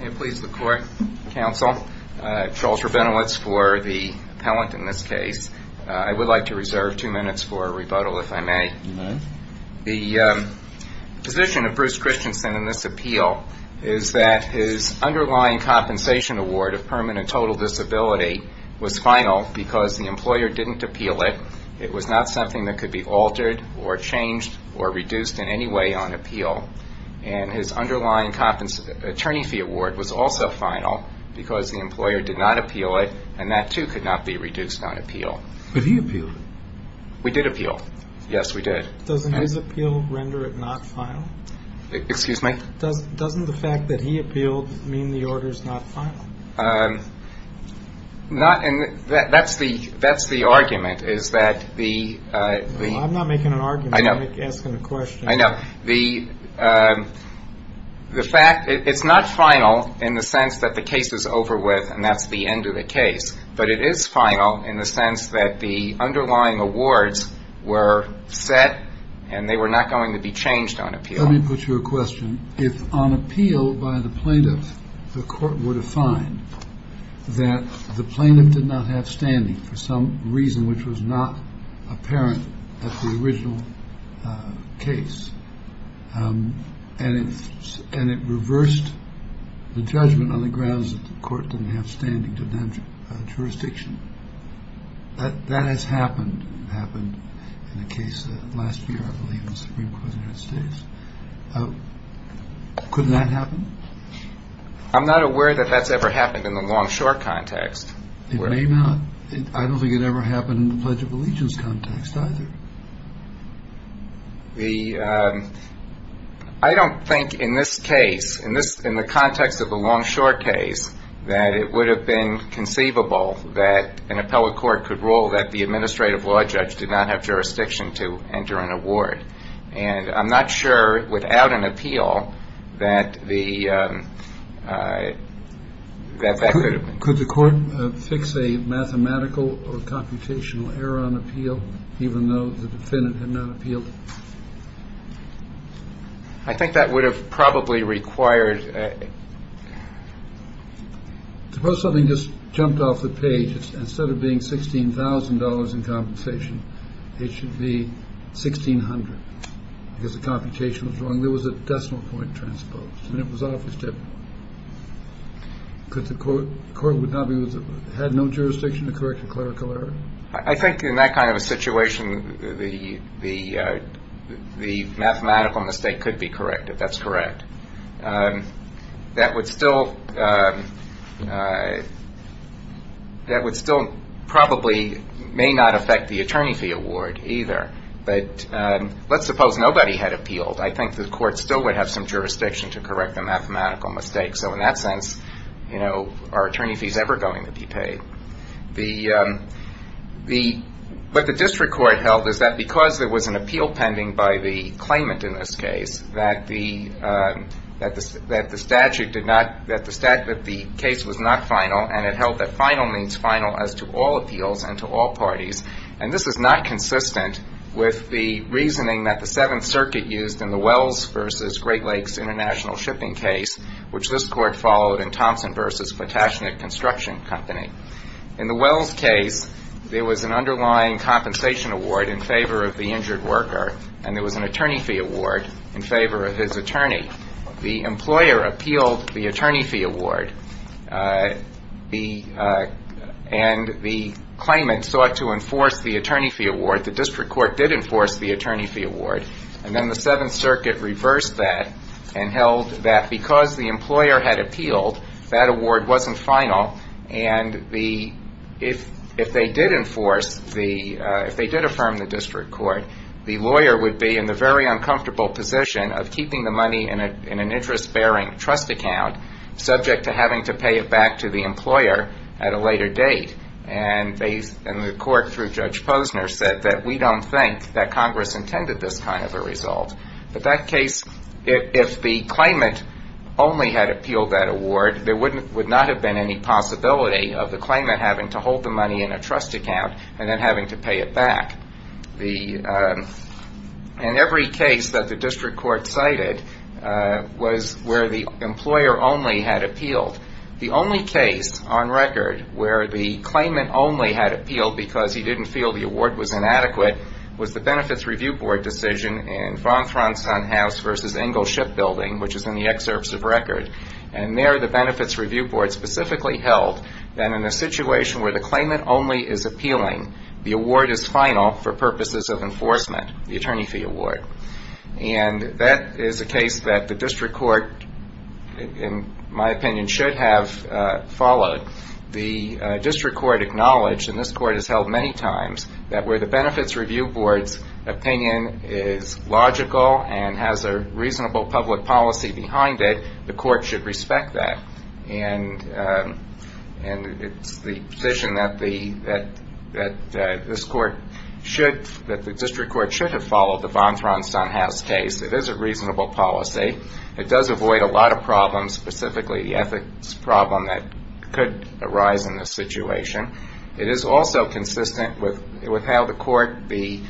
May it please the court, counsel, Charles Rabinowitz for the appellant in this case. I would like to reserve two minutes for a rebuttal, if I may. You may. The position of Bruce Christensen in this appeal is that his underlying compensation award of permanent total disability was final because the employer didn't appeal it. It was not something that could be altered or changed or reduced in any way on appeal. And his underlying attorney fee award was also final because the employer did not appeal it and that too could not be reduced on appeal. But he appealed it. We did appeal. Yes, we did. Doesn't his appeal render it not final? Excuse me? Doesn't the fact that he appealed mean the order is not final? That's the argument, is that the... I'm not making an argument, I'm asking a question. I know. The fact, it's not final in the sense that the case is over with and that's the end of the case, but it is final in the sense that the underlying awards were set and they were not going to be changed on appeal. Let me put you a question. If on appeal by the plaintiff the court were to find that the plaintiff did not have standing for some reason which was not apparent at the original case and it reversed the judgment on the grounds that the court didn't have standing to demand jurisdiction, that has happened. It happened in a case last year, I believe, in the Supreme Court of the United States. Couldn't that happen? I'm not aware that that's ever happened in the long-short context. It may not. I don't think it ever happened in the Pledge of Allegiance context either. I don't think in this case, in the context of the long-short case, that it would have been conceivable that an appellate court could rule that the administrative law judge did not have jurisdiction to enter an award. And I'm not sure without an appeal that that could have been. Could the court fix a mathematical or computational error on appeal, even though the defendant had not appealed? I think that would have probably required. Suppose something just jumped off the page. Instead of being $16,000 in compensation, it should be $1,600 because the computation was wrong. There was a decimal point transposed and it was off the tip. Could the court have no jurisdiction to correct a clerical error? I think in that kind of a situation, the mathematical mistake could be corrected. That's correct. That would still probably may not affect the attorney fee award either. But let's suppose nobody had appealed. I think the court still would have some jurisdiction to correct the mathematical mistake. So in that sense, are attorney fees ever going to be paid? What the district court held is that because there was an appeal pending by the claimant in this case, that the case was not final and it held that final means final as to all appeals and to all parties. And this is not consistent with the reasoning that the Seventh Circuit used in the Wells versus Great Lakes International Shipping case, which this court followed in Thompson versus Potashnick Construction Company. In the Wells case, there was an underlying compensation award in favor of the injured worker and there was an attorney fee award in favor of his attorney. The employer appealed the attorney fee award and the claimant sought to enforce the attorney fee award. The district court did enforce the attorney fee award. And then the Seventh Circuit reversed that and held that because the employer had appealed, that award wasn't final. And if they did affirm the district court, the lawyer would be in the very uncomfortable position of keeping the money in an interest-bearing trust account, subject to having to pay it back to the employer at a later date. And the court, through Judge Posner, said that we don't think that Congress intended this kind of a result. But that case, if the claimant only had appealed that award, there would not have been any possibility of the claimant having to hold the money in a trust account and then having to pay it back. And every case that the district court cited was where the employer only had appealed. The only case on record where the claimant only had appealed because he didn't feel the award was inadequate was the Benefits Review Board decision in Von Thronson House v. Engel Shipbuilding, which is in the excerpts of record. And there the Benefits Review Board specifically held that in a situation where the claimant only is appealing, the award is final for purposes of enforcement, the attorney fee award. And that is a case that the district court, in my opinion, should have followed. The district court acknowledged, and this court has held many times, that where the Benefits Review Board's opinion is logical and has a reasonable public policy behind it, the court should respect that. And it's the position that the district court should have followed the Von Thronson House case. It is a reasonable policy. It does avoid a lot of problems, specifically the ethics problem that could arise in this situation. It is also consistent with how the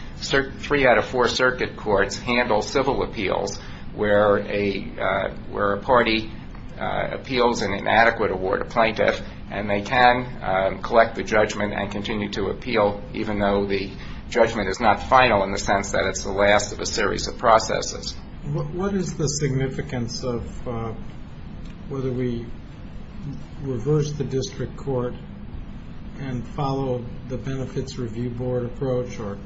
three out of four circuit courts handle civil appeals where a party appeals an inadequate award, a plaintiff, and they can collect the judgment and continue to appeal even though the judgment is not final in the sense that it's the last of a series of processes. What is the significance of whether we reverse the district court and follow the Benefits Review Board approach or,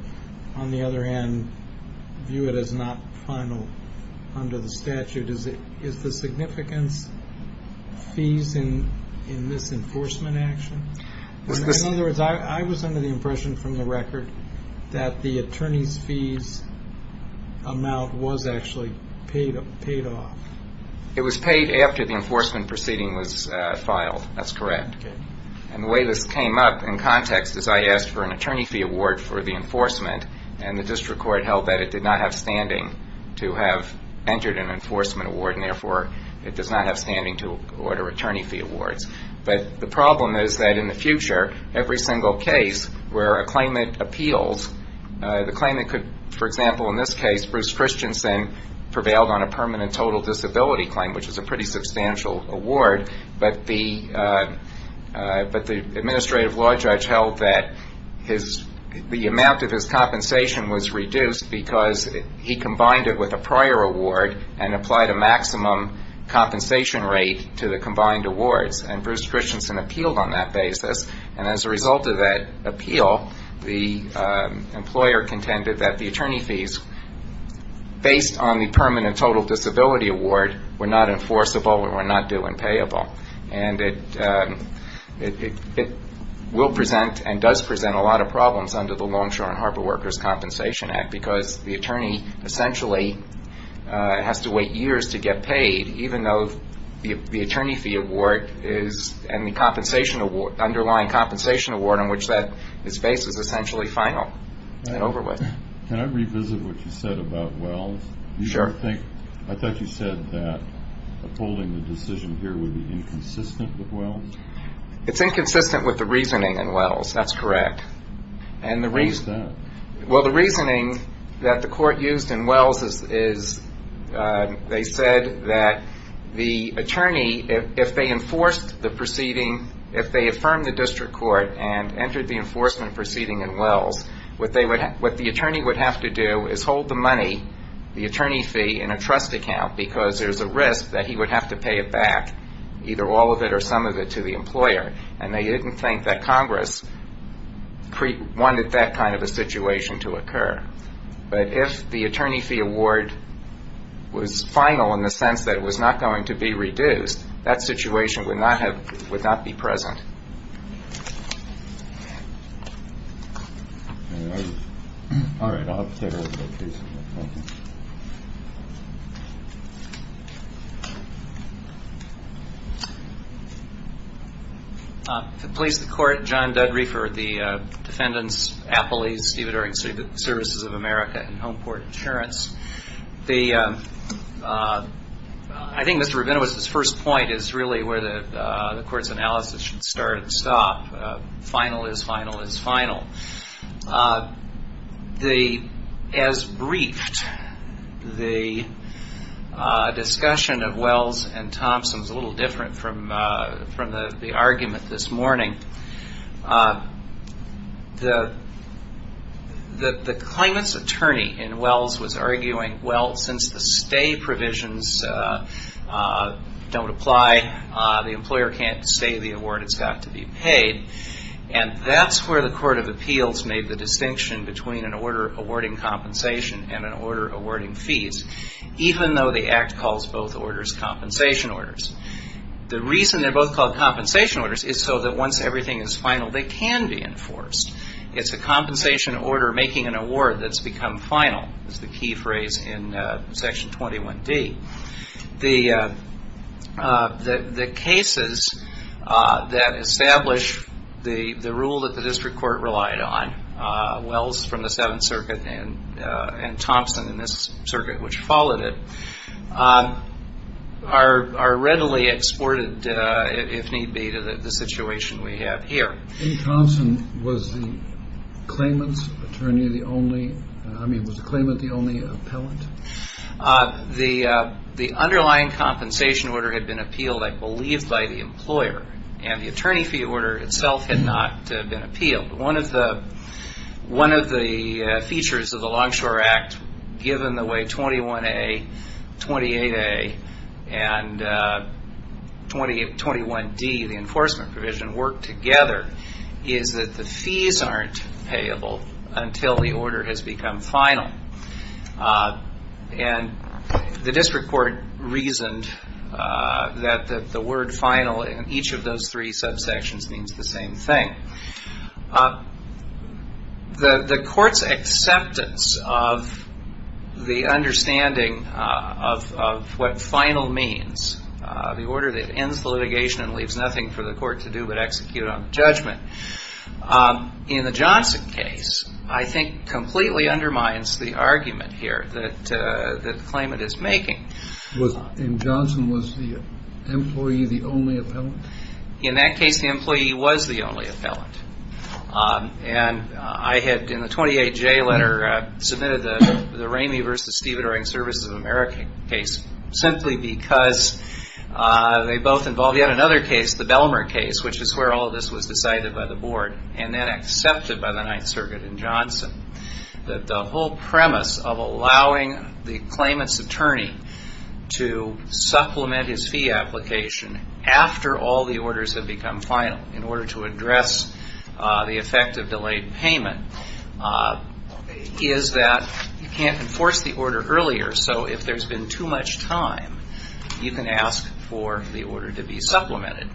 on the other hand, view it as not final under the statute? Is the significance fees in this enforcement action? In other words, I was under the impression from the record that the attorney's fees amount was actually paid off. It was paid after the enforcement proceeding was filed. That's correct. And the way this came up in context is I asked for an attorney fee award for the enforcement and the district court held that it did not have standing to have entered an enforcement award and, therefore, it does not have standing to order attorney fee awards. But the problem is that in the future, every single case where a claimant appeals, the claimant could, for example, in this case, Bruce Christensen prevailed on a permanent total disability claim, which is a pretty substantial award, but the administrative law judge held that the amount of his compensation was reduced because he combined it with a prior award and applied a maximum compensation rate to the combined awards, and Bruce Christensen appealed on that basis. And as a result of that appeal, the employer contended that the attorney fees, based on the permanent total disability award, were not enforceable and were not due and payable. And it will present and does present a lot of problems under the Longshore and Harbor Workers Compensation Act because the attorney essentially has to wait years to get paid, even though the attorney fee award and the underlying compensation award on which that is based is essentially final. Can I revisit what you said about Wells? Sure. I thought you said that upholding the decision here would be inconsistent with Wells? It's inconsistent with the reasoning in Wells. That's correct. What is that? Well, the reasoning that the court used in Wells is they said that the attorney, if they enforced the proceeding, if they affirmed the district court and entered the enforcement proceeding in Wells, what the attorney would have to do is hold the money, the attorney fee, in a trust account because there's a risk that he would have to pay it back, either all of it or some of it, to the employer. And they didn't think that Congress wanted that kind of a situation to occur. But if the attorney fee award was final in the sense that it was not going to be reduced, that situation would not be present. All right. I'll have to take a look at that case. Thank you. To the police, the court, John Dudry for the defendants, Appleby, Stephen Erickson, Services of America, and Homeport Insurance. I think Mr. Rabinowitz's first point is really where the court's analysis should start and stop. Final is final is final. As briefed, the discussion of Wells and Thompson is a little different from the argument this morning. The claimant's attorney in Wells was arguing, well, since the stay provisions don't apply, the employer can't stay the award. It's got to be paid. And that's where the Court of Appeals made the distinction between an order awarding compensation and an order awarding fees, even though the Act calls both orders compensation orders. The reason they're both called compensation orders is so that once everything is final, they can be enforced. It's a compensation order making an award that's become final is the key phrase in Section 21D. The cases that establish the rule that the district court relied on, Wells from the Seventh Circuit and Thompson in this circuit which followed it, are readily exported, if need be, to the situation we have here. In Thompson, was the claimant's attorney the only, I mean, was the claimant the only appellant? The underlying compensation order had been appealed, I believe, by the employer, and the attorney fee order itself had not been appealed. One of the features of the Longshore Act, given the way 21A, 28A, and 21D, the enforcement provision, work together is that the fees aren't payable until the order has become final. And the district court reasoned that the word final in each of those three subsections means the same thing. The court's acceptance of the understanding of what final means, the order that ends the litigation and leaves nothing for the court to do but execute on judgment, in the Johnson case, I think completely undermines the argument here that the claimant is making. And Johnson was the employee, the only appellant? In that case, the employee was the only appellant. And I had, in the 28J letter, submitted the Ramey v. Stephen Erring, Services of America case, simply because they both involve yet another case, the Bellmer case, which is where all of this was decided by the board and then accepted by the Ninth Circuit in Johnson, that the whole premise of allowing the claimant's attorney to supplement his fee application after all the orders have become final in order to address the effect of delayed payment is that you can't enforce the order earlier, so if there's been too much time, you can ask for the order to be supplemented.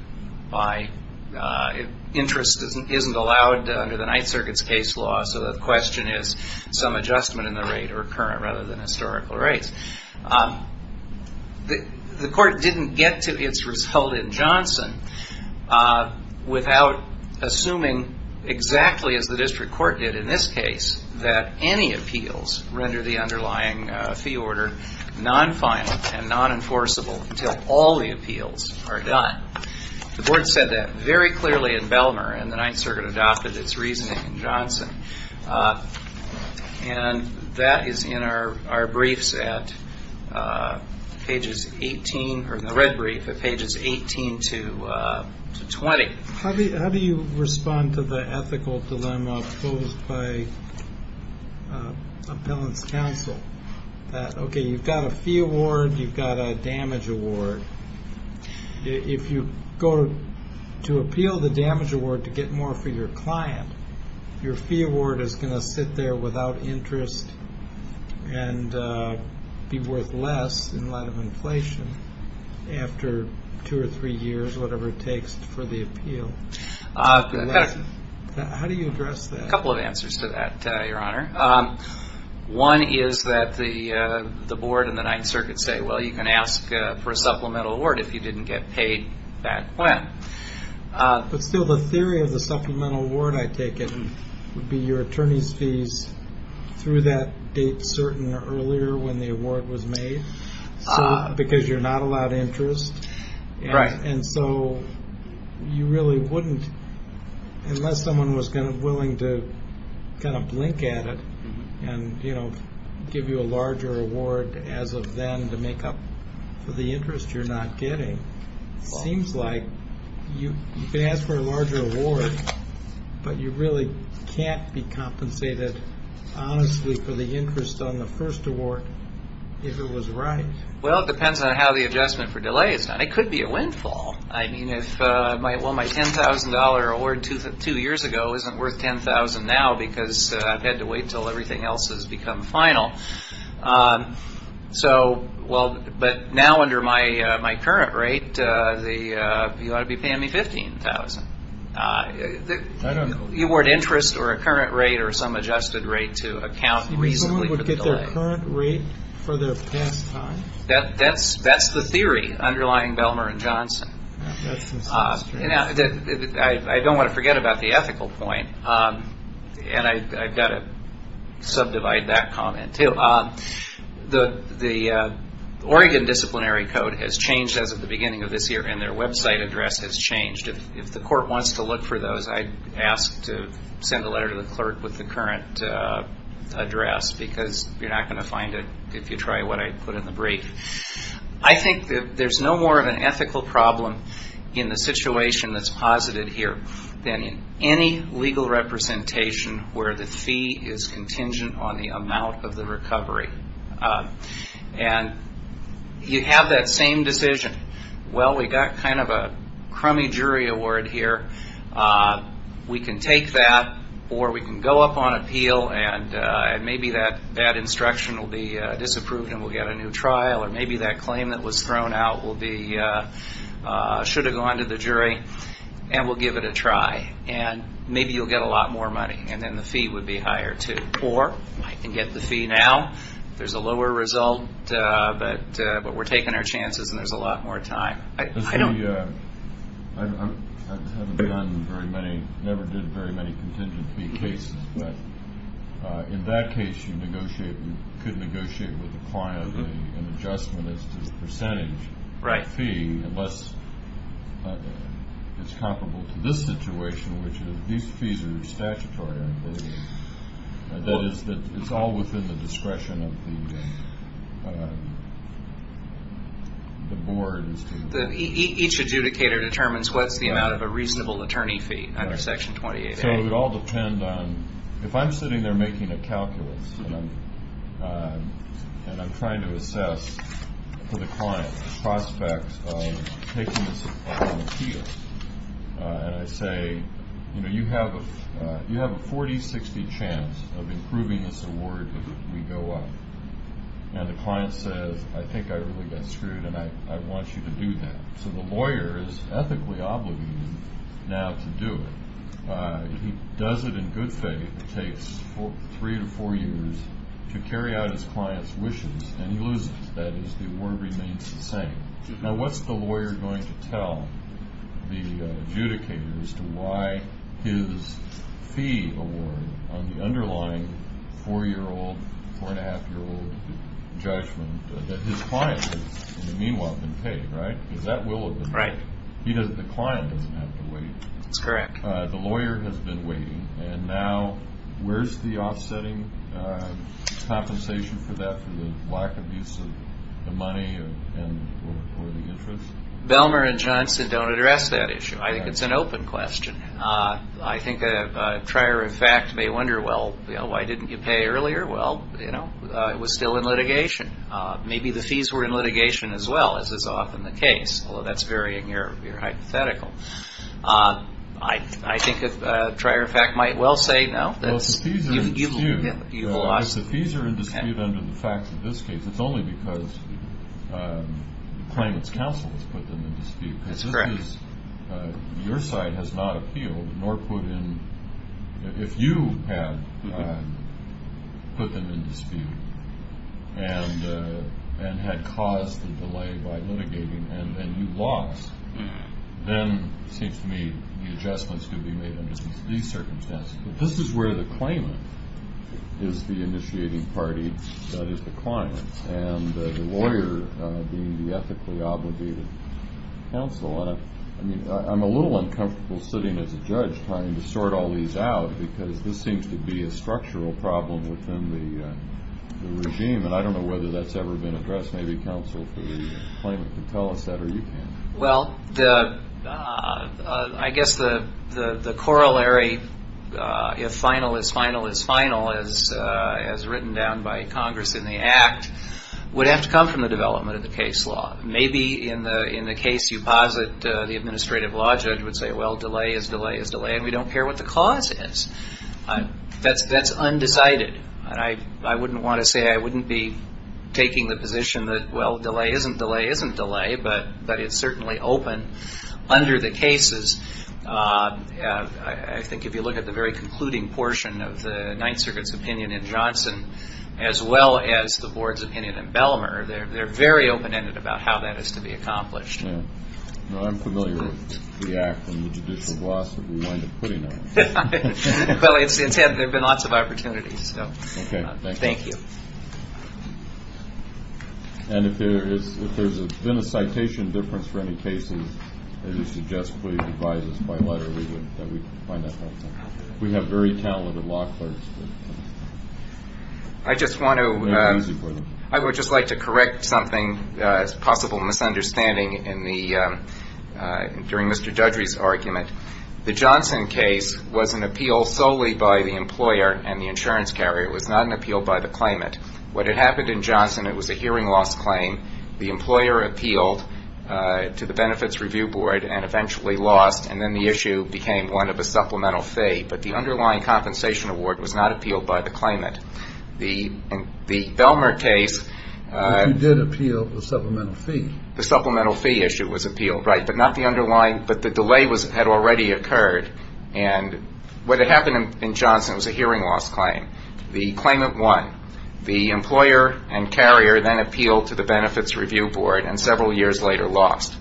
Interest isn't allowed under the Ninth Circuit's case law, so the question is some adjustment in the rate or current rather than historical rates. The court didn't get to its result in Johnson without assuming exactly as the district court did in this case that any appeals render the underlying fee order non-final and non-enforceable until all the appeals are done. The board said that very clearly in Bellmer, and the Ninth Circuit adopted its reasoning in Johnson. And that is in our briefs at pages 18, or in the red brief at pages 18 to 20. How do you respond to the ethical dilemma posed by appellant's counsel? Okay, you've got a fee award, you've got a damage award. If you go to appeal the damage award to get more for your client, your fee award is going to sit there without interest and be worth less in light of inflation after two or three years, whatever it takes for the appeal. How do you address that? A couple of answers to that, Your Honor. One is that the board and the Ninth Circuit say, well, you can ask for a supplemental award if you didn't get paid that plan. But still, the theory of the supplemental award, I take it, would be your attorney's fees through that date certain or earlier when the award was made? Because you're not allowed interest? Right. And so you really wouldn't, unless someone was willing to kind of blink at it and give you a larger award as of then to make up for the interest you're not getting. Seems like you can ask for a larger award, but you really can't be compensated honestly for the interest on the first award if it was right. Well, it depends on how the adjustment for delay is done. It could be a windfall. Well, my $10,000 award two years ago isn't worth $10,000 now because I've had to wait until everything else has become final. But now under my current rate, you ought to be paying me $15,000. I don't know. You award interest or a current rate or some adjusted rate to account reasonably for the delay. A current rate for the past time? That's the theory underlying Bellmer and Johnson. I don't want to forget about the ethical point, and I've got to subdivide that comment too. The Oregon Disciplinary Code has changed as of the beginning of this year, and their website address has changed. If the court wants to look for those, I'd ask to send a letter to the clerk with the current address because you're not going to find it if you try what I put in the brief. I think that there's no more of an ethical problem in the situation that's posited here than in any legal representation where the fee is contingent on the amount of the recovery. And you have that same decision. Well, we've got kind of a crummy jury award here. We can take that, or we can go up on appeal, and maybe that instruction will be disapproved and we'll get a new trial, or maybe that claim that was thrown out should have gone to the jury, and we'll give it a try, and maybe you'll get a lot more money, and then the fee would be higher too. Or I can get the fee now. There's a lower result, but we're taking our chances and there's a lot more time. I haven't done very many, never did very many contingent fee cases, but in that case you could negotiate with the client an adjustment as to the percentage fee unless it's comparable to this situation, which these fees are statutory, I believe. That is, it's all within the discretion of the board. Each adjudicator determines what's the amount of a reasonable attorney fee under Section 28A. So it would all depend on, if I'm sitting there making a calculus and I'm trying to assess for the client the prospects of taking this on appeal, and I say, you know, you have a 40-60 chance of improving this award if we go up, and the client says, I think I really got screwed and I want you to do that. So the lawyer is ethically obligated now to do it. If he does it in good faith, it takes three to four years to carry out his client's wishes, and he loses. That is, the award remains the same. Now, what's the lawyer going to tell the adjudicator as to why his fee award on the underlying four-year-old, four-and-a-half-year-old judgment that his client has, in the meanwhile, been paid, right? Because that will have been paid. Right. The client doesn't have to wait. That's correct. The lawyer has been waiting, and now where's the offsetting compensation for that, for the lack of use of the money or the interest? Bellmer and Johnson don't address that issue. I think it's an open question. I think a trier of fact may wonder, well, why didn't you pay earlier? Well, you know, it was still in litigation. Maybe the fees were in litigation as well, as is often the case, although that's very hypothetical. I think a trier of fact might well say no. Well, the fees are in dispute. The fees are in dispute under the facts of this case. It's only because the claimant's counsel has put them in dispute. That's correct. Because this is your side has not appealed, nor put in. If you had put them in dispute and had caused the delay by litigating and you lost, then it seems to me the adjustments could be made under these circumstances. This is where the claimant is the initiating party, that is, the client, and the lawyer being the ethically obligated counsel. I mean, I'm a little uncomfortable sitting as a judge trying to sort all these out because this seems to be a structural problem within the regime, and I don't know whether that's ever been addressed. Maybe counsel for the claimant can tell us that, or you can. Well, I guess the corollary, if final is final is final, as written down by Congress in the Act, would have to come from the development of the case law. Maybe in the case you posit the administrative law judge would say, well, delay is delay is delay, and we don't care what the cause is. That's undecided. I wouldn't want to say I wouldn't be taking the position that, well, delay isn't delay isn't delay, but it's certainly open under the cases. I think if you look at the very concluding portion of the Ninth Circuit's opinion in Johnson, as well as the board's opinion in Bellmer, they're very open-ended about how that is to be accomplished. Well, I'm familiar with the Act and the judicial glossary we wind up putting on it. Well, there have been lots of opportunities, so thank you. And if there's been a citation difference for any cases, as you suggest, please advise us by letter that we find that helpful. We have very talented law clerks. I just want to, I would just like to correct something, a possible misunderstanding during Mr. Dudry's argument. The Johnson case was an appeal solely by the employer and the insurance carrier. It was not an appeal by the claimant. What had happened in Johnson, it was a hearing loss claim. The employer appealed to the Benefits Review Board and eventually lost, and then the issue became one of a supplemental fee, but the underlying compensation award was not appealed by the claimant. The Bellmer case --. You did appeal the supplemental fee. The supplemental fee issue was appealed, right, but not the underlying, but the delay had already occurred. And what had happened in Johnson was a hearing loss claim. The claimant won. The employer and carrier then appealed to the Benefits Review Board and several years later lost.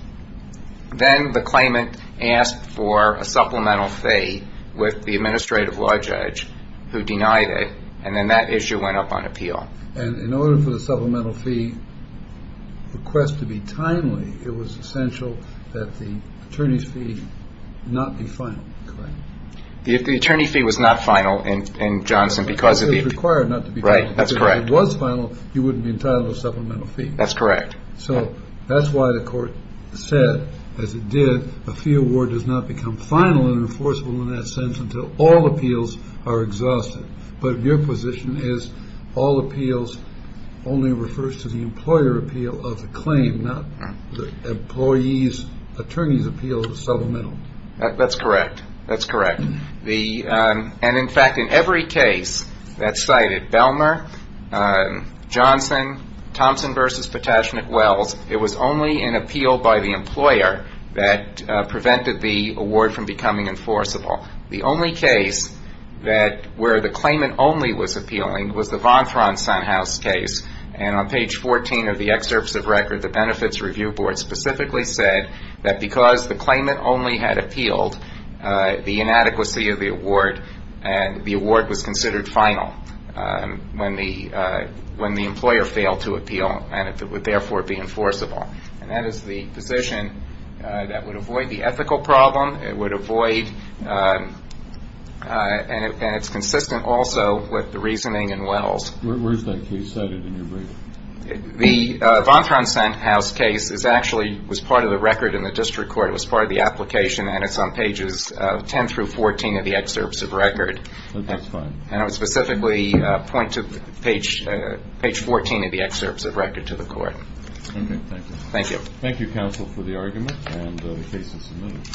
Then the claimant asked for a supplemental fee with the administrative law judge who denied it, and then that issue went up on appeal. And in order for the supplemental fee request to be timely, it was essential that the attorney's fee not be final, correct? If the attorney's fee was not final in Johnson because of the- It was required not to be final. Right, that's correct. If it was final, you wouldn't be entitled to a supplemental fee. That's correct. So that's why the court said, as it did, a fee award does not become final and enforceable in that sense until all appeals are exhausted. But your position is all appeals only refers to the employer appeal of the claim, not the employee's attorney's appeal of the supplemental. That's correct. That's correct. And, in fact, in every case that cited Belmer, Johnson, Thompson v. Potash McWells, it was only an appeal by the employer that prevented the award from becoming enforceable. The only case where the claimant only was appealing was the Von Thronson House case. And on page 14 of the excerpts of record, the Benefits Review Board specifically said that because the claimant only had appealed, the inadequacy of the award and the award was considered final when the employer failed to appeal and it would therefore be enforceable. And that is the position that would avoid the ethical problem. It would avoid-and it's consistent also with the reasoning in Wells. Where is that case cited in your brief? The Von Thronson House case is actually-was part of the record in the district court. It was part of the application and it's on pages 10 through 14 of the excerpts of record. That's fine. And I would specifically point to page 14 of the excerpts of record to the court. Okay. Thank you. Thank you. Thank you, counsel, for the argument and the cases submitted.